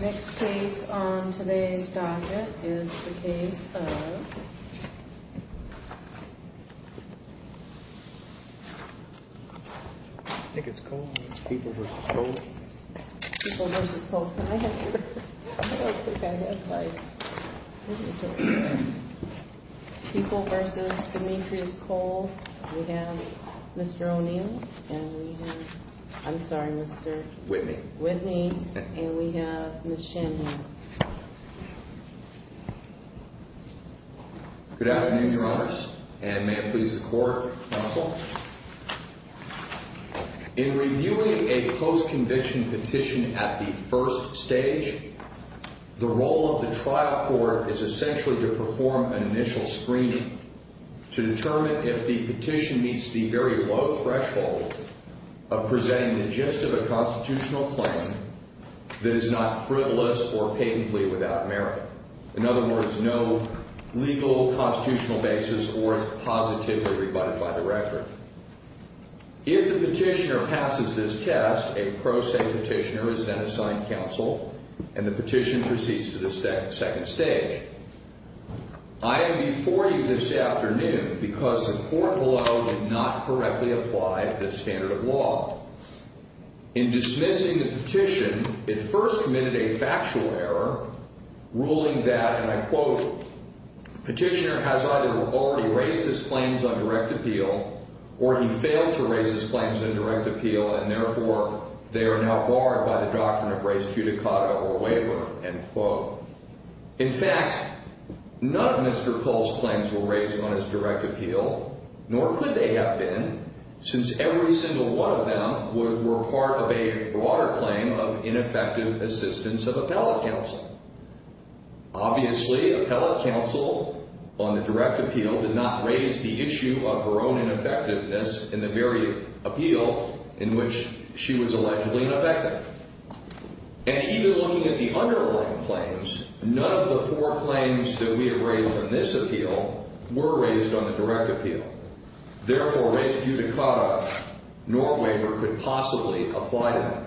Next case on today's docket is the case of I think it's Cole. It's People v. Cole. People v. Cole. Can I have your... I don't think I have my... People v. Demetrius Cole. We have Mr. O'Neill and we have I'm sorry, Mr. Whitney. Whitney. And we have Ms. Shanahan. Good afternoon, Your Honors, and may it please the Court, Counsel. In reviewing a post-conviction petition at the first stage, the role of the trial court is essentially to perform an initial screening to determine if the petition meets the very low threshold of presenting the gist of a constitutional claim that is not frivolous or patently without merit. In other words, no legal constitutional basis or it's positively rebutted by the record. If the petitioner passes this test, a pro se petitioner is then assigned counsel and the petition proceeds to the second stage. I am before you this afternoon because the court below did not correctly apply this standard of law. In dismissing the petition, it first committed a factual error ruling that, and I quote, petitioner has either already raised his claims on direct appeal or he failed to raise his claims on direct appeal and therefore they are now barred by the doctrine of res judicata or waiver, end quote. In fact, none of Mr. Cole's claims were raised on his direct appeal, nor could they have been, since every single one of them were part of a broader claim of ineffective assistance of appellate counsel. Obviously, appellate counsel on the direct appeal did not raise the issue of her own ineffectiveness in the very appeal in which she was allegedly ineffective. And even looking at the underlying claims, none of the four claims that we have raised on this appeal were raised on the direct appeal. Therefore, res judicata nor waiver could possibly apply to them.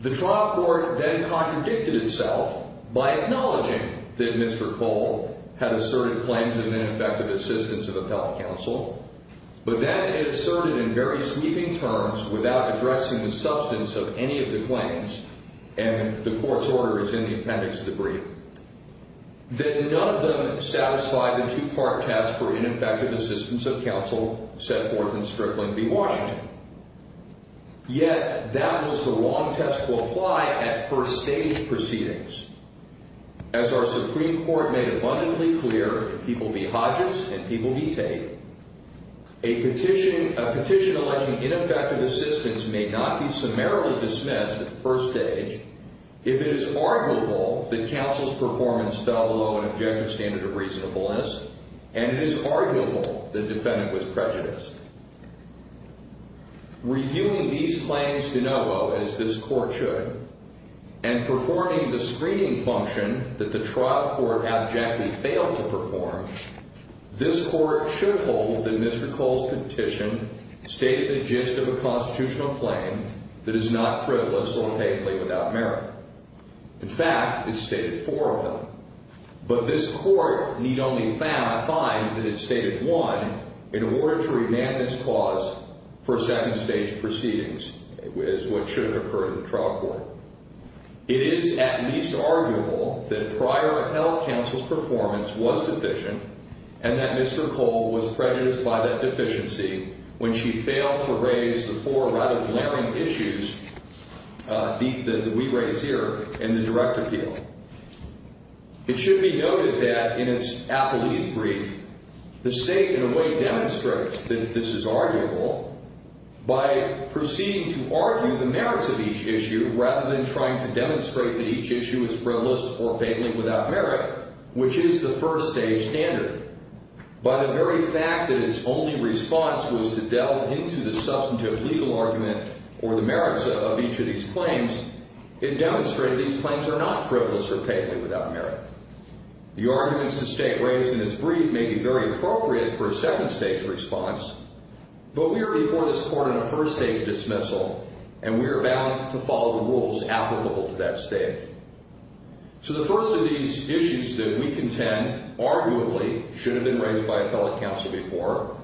The trial court then contradicted itself by acknowledging that Mr. Cole had asserted claims of ineffective assistance of appellate counsel, but that it asserted in very sweeping terms without addressing the substance of any of the claims, and the court's order is in the appendix to the brief, that none of them satisfied the two-part test for ineffective assistance of counsel, set forth in Strickland v. Washington. Yet, that was the wrong test to apply at first-stage proceedings. As our Supreme Court made abundantly clear, if people be Hodges and people be Tate, a petition alleging ineffective assistance may not be summarily dismissed at first stage if it is arguable that counsel's prejudice. Reviewing these claims de novo, as this Court should, and performing the screening function that the trial court abjectly failed to perform, this Court should hold that Mr. Cole's petition stated the gist of a constitutional claim that is not frivolous or hateful without merit. In fact, it stated four of them, but this Court need only find that it stated one in order to remand this clause for second-stage proceedings, as what should occur in the trial court. It is at least arguable that prior appellate counsel's performance was deficient and that Mr. Cole was prejudiced by that deficiency when she failed to raise the four rather glaring issues that we raise here in the direct appeal. It should be noted that in its appellee's brief, the State in a way demonstrates that this is arguable by proceeding to argue the merits of each issue rather than trying to demonstrate that each issue is frivolous or vaguely without merit, which is the first-stage standard. By the very fact that its only response was to delve into the substantive legal argument or the merits of each of these claims, it demonstrated these claims are not frivolous or vaguely without merit. The arguments the State raised in its brief may be very appropriate for a second-stage response, but we are before this Court on a first-stage dismissal, and we are bound to follow the rules applicable to that stage. So the first of these issues that we contend arguably should have been raised by appellate counsel before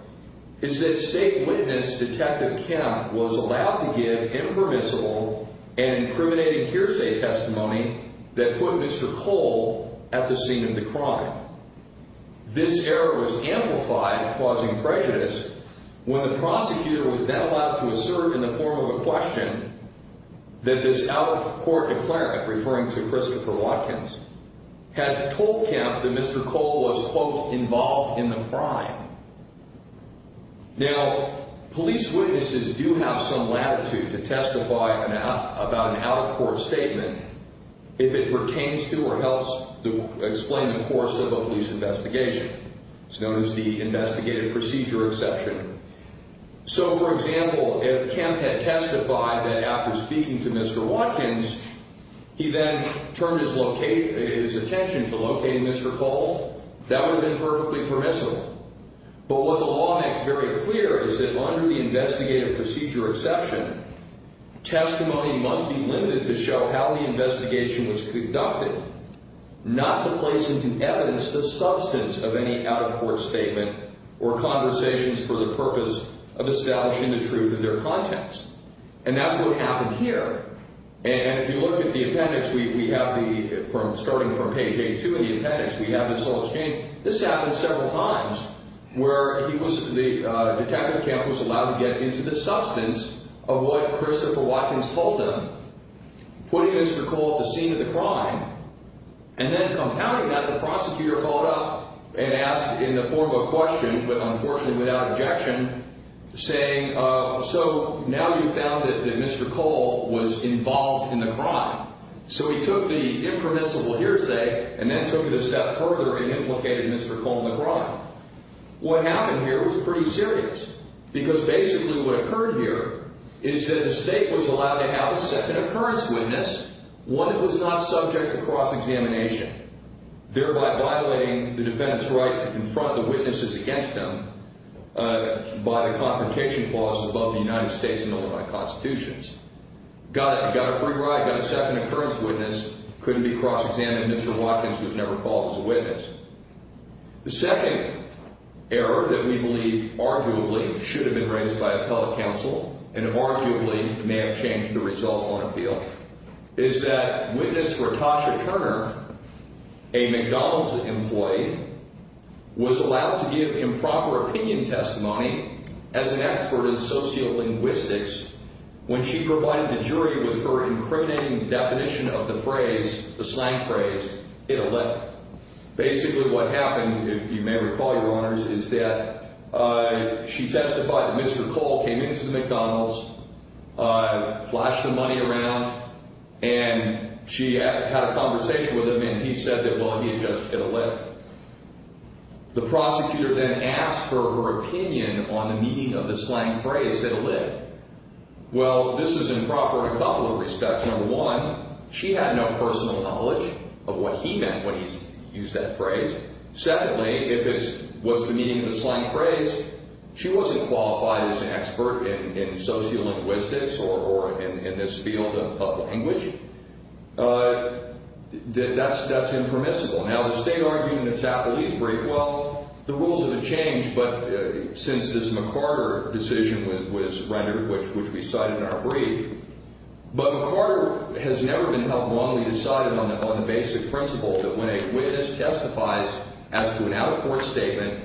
is that State witness Detective Kemp was allowed to give impermissible and incriminating hearsay testimony that put Mr. Cole at the scene of the crime. This error was amplified, causing prejudice, when the prosecutor was then allowed to assert in the form of a question that this out-of-court declarant, referring to Christopher Watkins, had told Kemp that Mr. Cole was quote, involved in the crime. Now, police witnesses do have some latitude to testify about an out-of-court statement if it pertains to or helps explain the course of a police investigation. It's known as the investigative procedure exception. So, for example, if Kemp had testified that after speaking to Mr. Watkins, he then turned his attention to locating Mr. Cole, that would have been perfectly permissible. But what the law makes very clear is that under the investigative procedure exception, testimony must be limited to show how the investigation was conducted, not to place into evidence the substance of any out-of-court statement or conversations for the purpose of establishing the truth in their context. And that's what happened here. And if you look at the appendix, we have the, starting from page A2 in the appendix, we have this little change. This happened several times where he was, the, Detective Kemp was allowed to get into the substance of what Christopher Watkins told him, putting Mr. Cole at the scene of the crime, and then compounding that, the prosecutor followed up and asked in the form of a question, but unfortunately without objection, saying, so now you've found that Mr. Cole was involved in the crime. So he took the impermissible hearsay and then took it a step further and implicated Mr. Cole in the crime. What happened here was pretty serious, because basically what occurred here is that the State was allowed to have a second occurrence witness, one that was not subject to cross-examination, thereby violating the defendant's right to confront the witnesses against them by the confrontation clause above the United States and over my constitutions. Got a free ride, got a second occurrence witness, couldn't be cross-examined, Mr. Watkins was never called as a witness. The second error that we believe arguably should have been raised by appellate counsel, and arguably may have changed the result on appeal, is that witness for Tasha Turner, a McDonald's employee, was allowed to give improper opinion testimony as an expert in sociolinguistics when she provided the jury with her incriminating definition of the phrase, the slang phrase, it'll let. Basically what happened, if you may recall, Your Honors, is that she testified that Mr. Cole came into the McDonald's, flashed the money around, and she had a conversation with him, and he said that, well, he had just, it'll let. The prosecutor then asked for her opinion on the meaning of the slang phrase, it'll let. Well, this was improper in a couple of respects. Number one, she had no personal knowledge of what he meant when he used that phrase. Secondly, if it's, what's the meaning of the slang phrase, she wasn't qualified as an expert in sociolinguistics or in this field of language. That's impermissible. Now, the state argued in its appellate's brief, well, the rules have been changed, but since this McCarter decision was rendered, which we cite in our brief, but McCarter has never been held wrongly decided on the basic principle that when a witness testifies as to an out-of-court statement,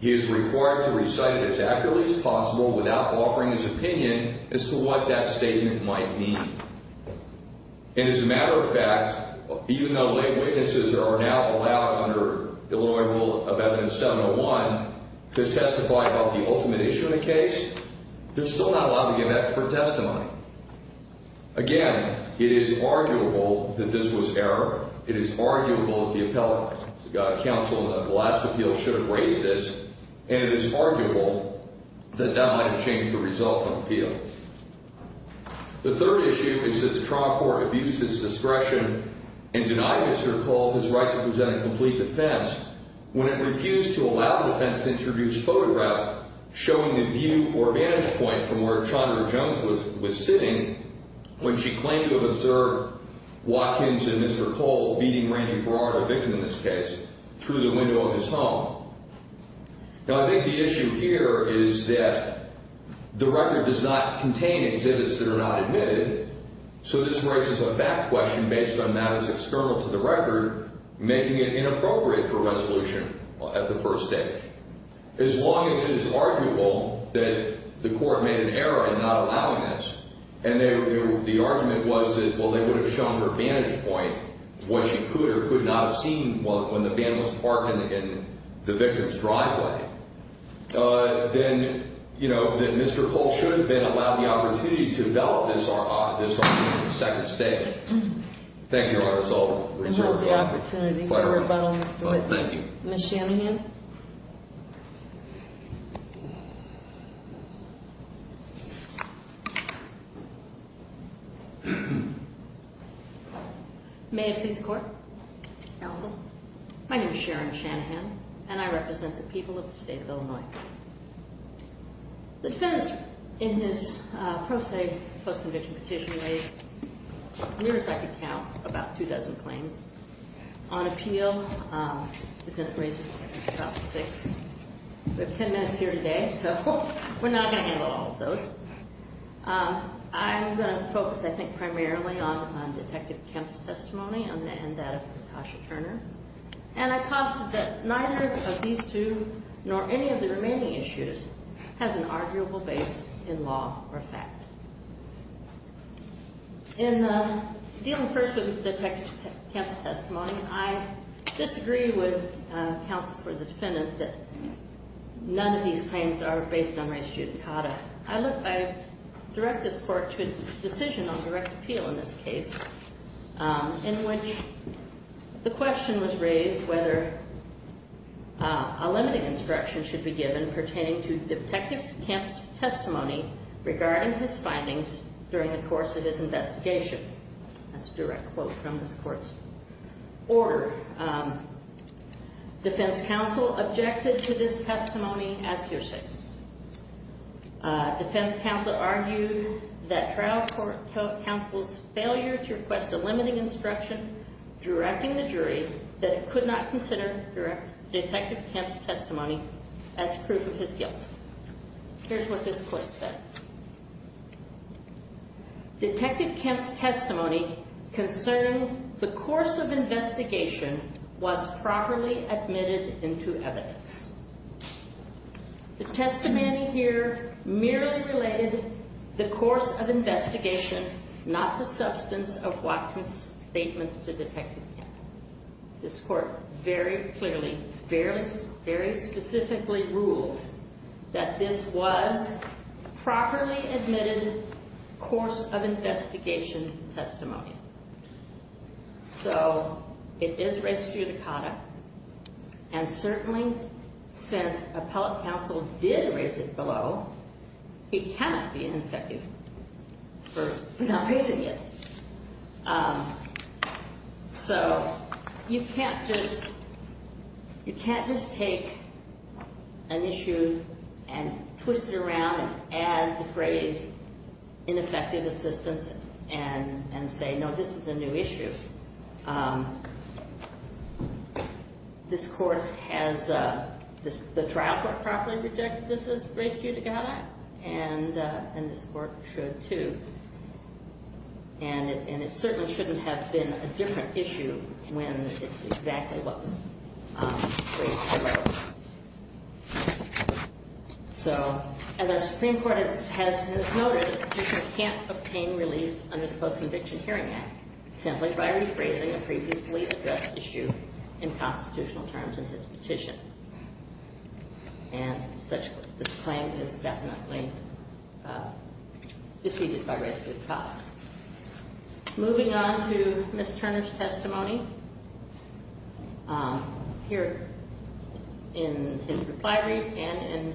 he is required to recite it as accurately as possible without offering his opinion as to what that statement might mean. And as a matter of fact, even though lay witnesses are now allowed under Illinois Rule of Evidence 701 to testify about the ultimate issue of the case, they're still not allowed to give expert testimony. Again, it is arguable that this was error. It is arguable that the appellate's counsel in the last appeal should have raised this, and it is arguable that that might have changed the result of the appeal. The third issue is that the trial court abused its discretion and denied Mr. Cole his right to present a complete defense when it refused to allow the defense to introduce photographs showing the view or vantage point from where Chandra Jones was sitting when she claimed to have observed Watkins and Mr. Cole beating Randy Berard, a victim in this case, through the window of his home. Now, I think the issue here is that the record does not contain exhibits that are not admitted, so this raises a fact question based on that as external to the record, making it inappropriate for resolution at the first stage. As long as it is arguable that the court made an error in not allowing this, and the argument was that, well, they would have shown her vantage point, what she could or could not have seen when the van was parked in the victim's driveway, then, you know, that Mr. Cole should have been allowed the opportunity to develop this argument at the second stage. Thank you, Your Honor, as I'll reserve the opportunity for rebuttal. Ms. Shanahan? Good morning. May I please court? My name is Sharon Shanahan, and I represent the people of the state of Illinois. The defense in his pro se post-conviction petition raised, near as I could count, about two dozen claims on appeal. We have ten minutes here today, so we're not going to handle all of those. I'm going to focus, I think, primarily on Detective Kemp's testimony and that of Natasha Turner, and I posit that neither of these two, nor any of the remaining issues, has an arguable base in law or fact. In dealing first with Detective Kemp's testimony, I disagree with counsel for the defendant that none of these claims are based on res judicata. I direct this court to its decision on direct appeal in this case, in which the question was raised whether a limiting instruction should be given pertaining to Detective Kemp's testimony regarding his findings during the course of his investigation. That's a direct quote from this court's order. Defense counsel objected to this testimony as hearsay. Defense counsel argued that trial counsel's failure to request a limiting instruction directing the jury that it could not consider Detective Kemp's testimony as proof of his guilt. Here's what this court said. Detective Kemp's testimony concerning the course of investigation was properly admitted into evidence. The testimony here merely related the course of investigation, not the substance of Watkins' statements to Detective Kemp. This court very clearly, very specifically ruled that this was properly admitted course of investigation testimony. So it is res judicata. And certainly since appellate counsel did raise it below, it cannot be ineffective for not raising it. So you can't just take an issue and twist it around and add the phrase ineffective assistance and say no, this is a new issue. This court has the trial court properly rejected this as res judicata and this court should too. And it certainly shouldn't have been a different issue when it's exactly what was raised below. So as our Supreme Court has noted, the petitioner can't obtain relief under the Post-Conviction Hearing Act simply by rephrasing a previously addressed issue in constitutional terms in his petition. And this claim is definitely defeated by res judicata. Here in his reply read and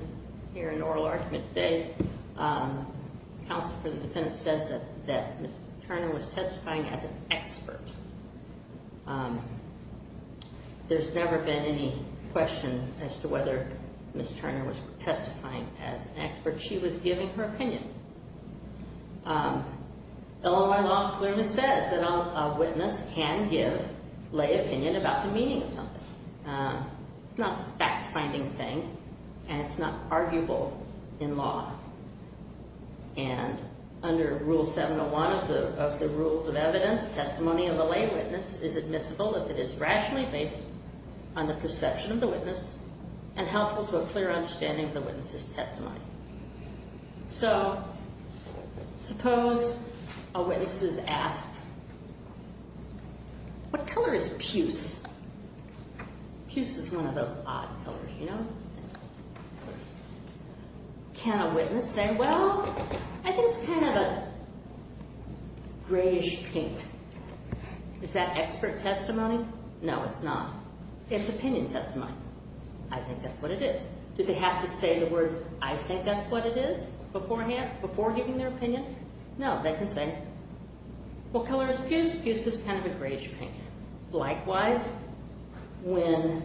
here in oral argument today, counsel for the defendant says that Ms. Turner was testifying as an expert. There's never been any question as to whether Ms. Turner was testifying as an expert. She was giving her opinion. Illinois law clearly says that a witness can give lay opinion about the meaning of something. It's not a fact-finding thing and it's not arguable in law. And under Rule 701 of the Rules of Evidence, testimony of a lay witness is admissible if it is rationally based on the perception of the witness and helpful to a clear understanding of the witness's testimony. So suppose a witness is asked, what color is puce? Puce is one of those odd colors, you know? Can a witness say, well, I think it's kind of a grayish pink? Is that expert testimony? No, it's not. It's opinion testimony. I think that's what it is. Did they have to say the words, I think that's what it is, beforehand, before giving their opinion? No, they can say, what color is puce? Puce is kind of a grayish pink. Likewise, when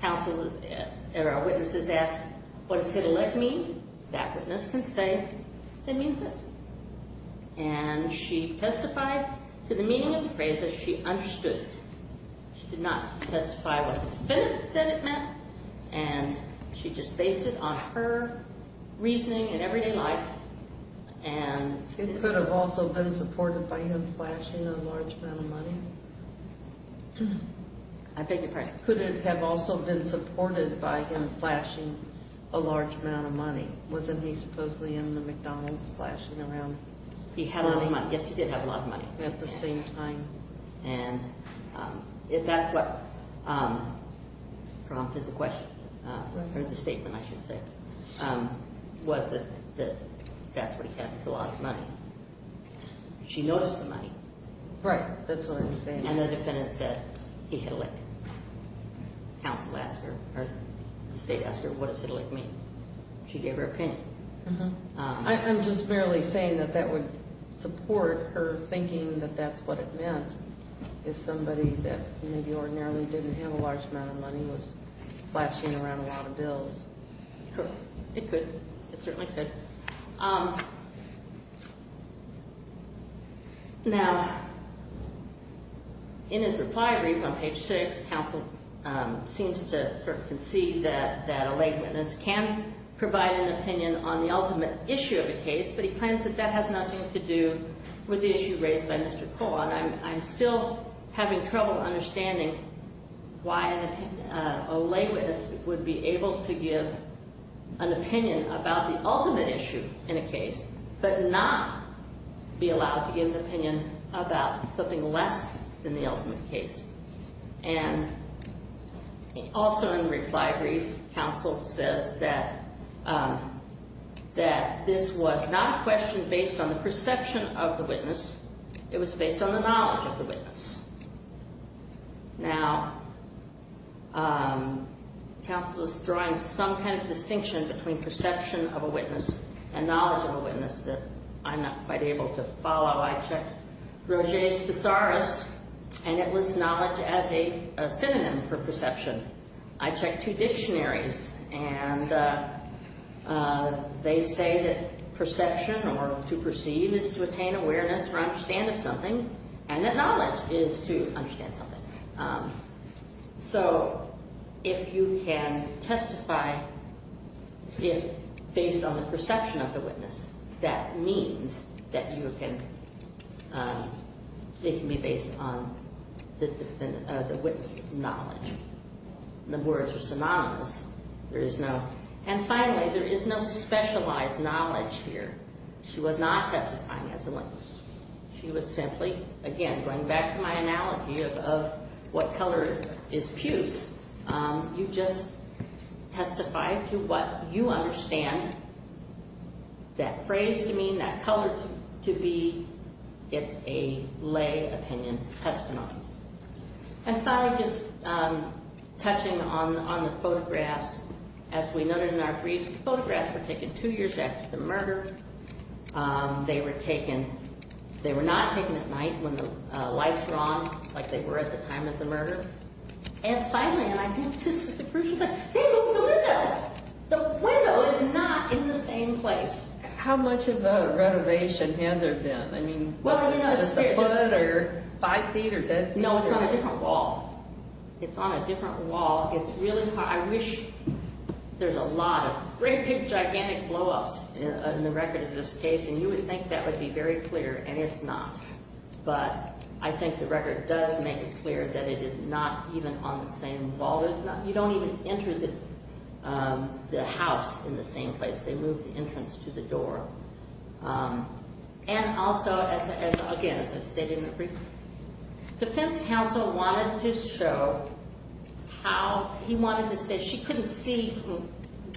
counsel or a witness is asked, what does hit-a-leg mean? That witness can say, it means this. And she testified to the meaning of the phrase that she understood. She did not testify what the defendant said it meant. And she just based it on her reasoning in everyday life. Could it have also been supported by him flashing a large amount of money? I beg your pardon? Could it have also been supported by him flashing a large amount of money? Wasn't he supposedly in the McDonald's flashing around? He had a lot of money. Yes, he did have a lot of money. At the same time? And if that's what prompted the question, or the statement, I should say, was that that's what he had with a lot of money. She noticed the money. Right, that's what I was saying. And the defendant said, he hit-a-leg. Counsel asked her, or the state asked her, what does hit-a-leg mean? She gave her opinion. I'm just merely saying that that would support her thinking that that's what it meant, if somebody that maybe ordinarily didn't have a large amount of money was flashing around a lot of bills. It could. It certainly could. Now, in his reply brief on page 6, counsel seems to sort of concede that a lay witness can provide an opinion on the ultimate issue of a case, but he claims that that has nothing to do with the issue raised by Mr. Cole. And I'm still having trouble understanding why a lay witness would be able to give an opinion about the ultimate issue in a case, but not be allowed to give an opinion about something less than the ultimate case. And also in the reply brief, counsel says that this was not a question based on the perception of the witness. It was based on the knowledge of the witness. Now, counsel is drawing some kind of distinction between perception of a witness and knowledge of a witness that I'm not quite able to follow. I checked Roger's Thesaurus, and it lists knowledge as a synonym for perception. I checked two dictionaries, and they say that perception or to perceive is to attain awareness or understand of something, and that knowledge is to understand something. So if you can testify based on the perception of the witness, that means that you can – it can be based on the witness' knowledge. The words are synonymous. There is no – and finally, there is no specialized knowledge here. She was not testifying as a witness. She was simply – again, going back to my analogy of what color is puce, you just testify to what you understand that phrase to mean, that color to be. It's a lay opinion testimony. And finally, just touching on the photographs, as we noted in our briefs, they were taken – they were not taken at night when the lights were on like they were at the time of the murder. And finally, and I think this is the crucial thing, they moved the window. The window is not in the same place. How much of a renovation had there been? I mean, was it just the foot or five feet or dead feet? No, it's on a different wall. It's on a different wall. I wish – there's a lot of great big gigantic blowups in the record of this case, and you would think that would be very clear, and it's not. But I think the record does make it clear that it is not even on the same wall. You don't even enter the house in the same place. They moved the entrance to the door. And also, again, as I stated in the brief, defense counsel wanted to show how – he wanted to say she couldn't see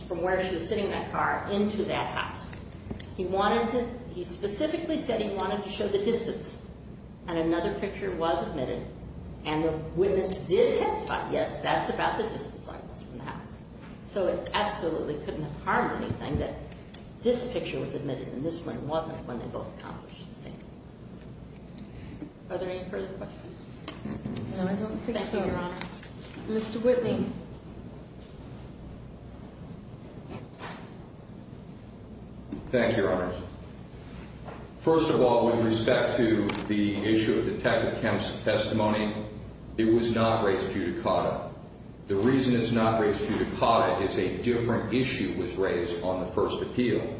from where she was sitting in that car into that house. He wanted to – he specifically said he wanted to show the distance. And another picture was admitted, and the witness did testify, yes, that's about the distance I was from the house. So it absolutely couldn't have harmed anything that this picture was admitted and this one wasn't when they both accomplished the same thing. Are there any further questions? No, I don't think so, Your Honor. Mr. Whitney. Thank you, Your Honors. First of all, with respect to the issue of Detective Kemp's testimony, it was not raised judicata. The reason it's not raised judicata is a different issue was raised on the first appeal.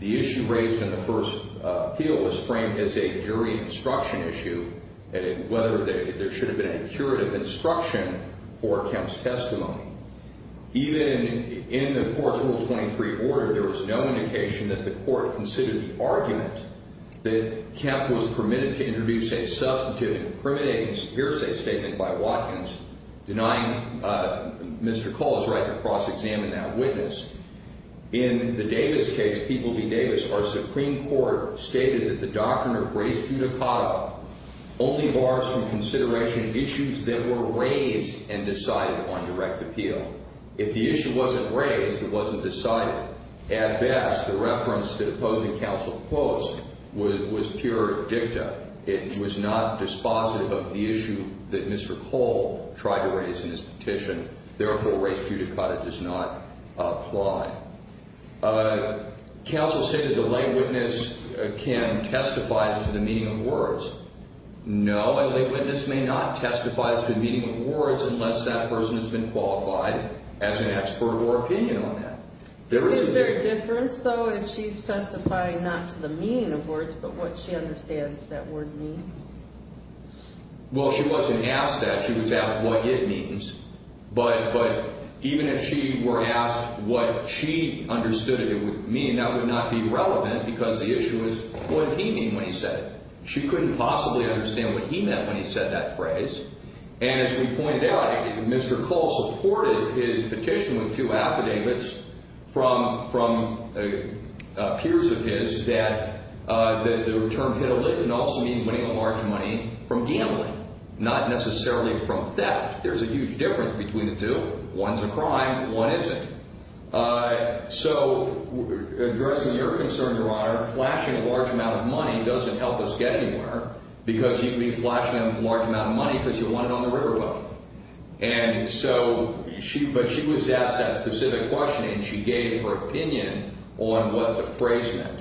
The issue raised in the first appeal was framed as a jury instruction issue, whether there should have been a curative instruction for Kemp's testimony. Even in the court's Rule 23 order, there was no indication that the court considered the argument that Kemp was permitted to introduce a substantive and incriminating hearsay statement by Watkins denying Mr. Cole's right to cross-examine that witness. In the Davis case, People v. Davis, our Supreme Court stated that the doctrine of raised judicata only bars from consideration issues that were raised and decided on direct appeal. If the issue wasn't raised, it wasn't decided. At best, the reference to the opposing counsel post was pure dicta. It was not dispositive of the issue that Mr. Cole tried to raise in his petition. Therefore, raised judicata does not apply. Counsel stated the lay witness can testify to the meaning of words. No, a lay witness may not testify to the meaning of words unless that person has been qualified as an expert or opinion on that. Is there a difference, though, if she's testifying not to the meaning of words but what she understands that word means? Well, she wasn't asked that. She was asked what it means. But even if she were asked what she understood it would mean, that would not be relevant because the issue is what did he mean when he said it. And as we pointed out, Mr. Cole supported his petition with two affidavits from peers of his that the term hit a limb and also means winning a large amount of money from gambling, not necessarily from theft. There's a huge difference between the two. One's a crime. One isn't. So addressing your concern, Your Honor, flashing a large amount of money doesn't help us get anywhere because you could be flashing a large amount of money because you won it on the riverboat. And so she was asked that specific question, and she gave her opinion on what the phrase meant.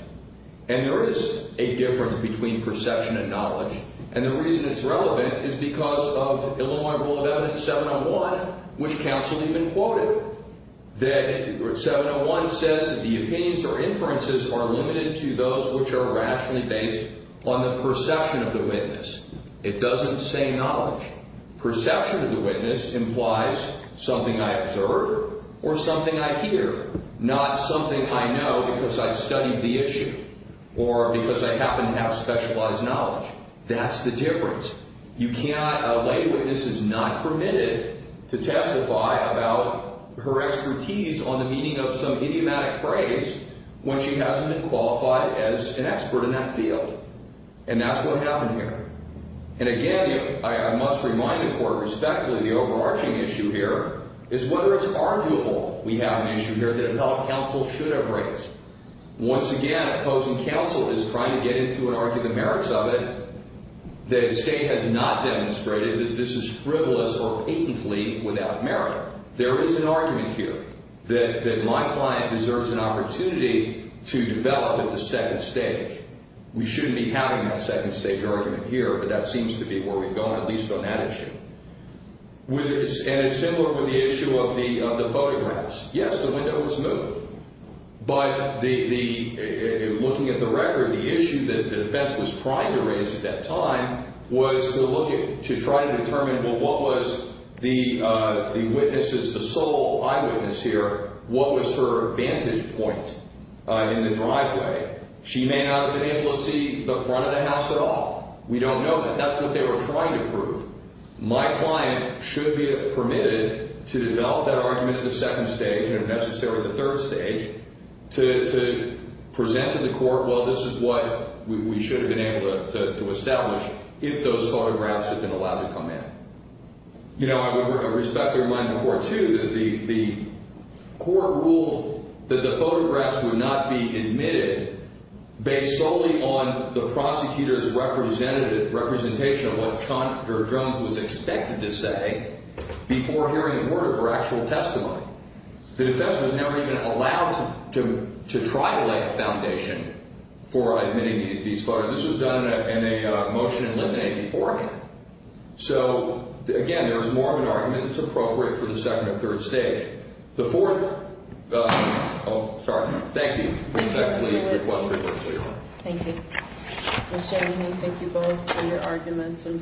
And there is a difference between perception and knowledge. And the reason it's relevant is because of Illinois Rule of Evidence 701, which counsel even quoted. 701 says the opinions or inferences are limited to those which are rationally based on the perception of the witness. It doesn't say knowledge. Perception of the witness implies something I observed or something I hear, not something I know because I studied the issue or because I happen to have specialized knowledge. That's the difference. A lay witness is not permitted to testify about her expertise on the meaning of some idiomatic phrase when she hasn't been qualified as an expert in that field. And that's what happened here. And again, I must remind the Court respectfully the overarching issue here is whether it's arguable we have an issue here that a fellow counsel should have raised. Once again, opposing counsel is trying to get into and argue the merits of it. The State has not demonstrated that this is frivolous or patently without merit. There is an argument here that my client deserves an opportunity to develop at the second stage. We shouldn't be having that second stage argument here, but that seems to be where we've gone, at least on that issue. And it's similar with the issue of the photographs. Yes, the window was moved. But looking at the record, the issue that the defense was trying to raise at that time was to try to determine, well, what was the witness's, the sole eyewitness here, what was her vantage point in the driveway? She may not have been able to see the front of the house at all. We don't know that. That's what they were trying to prove. My client should be permitted to develop that argument at the second stage, and if necessary, the third stage, to present to the court, well, this is what we should have been able to establish, if those photographs had been allowed to come in. You know, I respectfully remind the Court, too, that the Court ruled that the photographs would not be admitted based solely on the prosecutor's representative, representation of what Chandra Jones was expected to say before hearing a word of her actual testimony. The defense was never even allowed to try to lay the foundation for admitting these photos. This was done in a motion in Linden, 84. So, again, there's more of an argument that's appropriate for the second or third stage. The fourth—oh, sorry. Thank you. I respectfully request rebuttal, Your Honor. Thank you. Ms. Shanahan, thank you both for your arguments and briefs.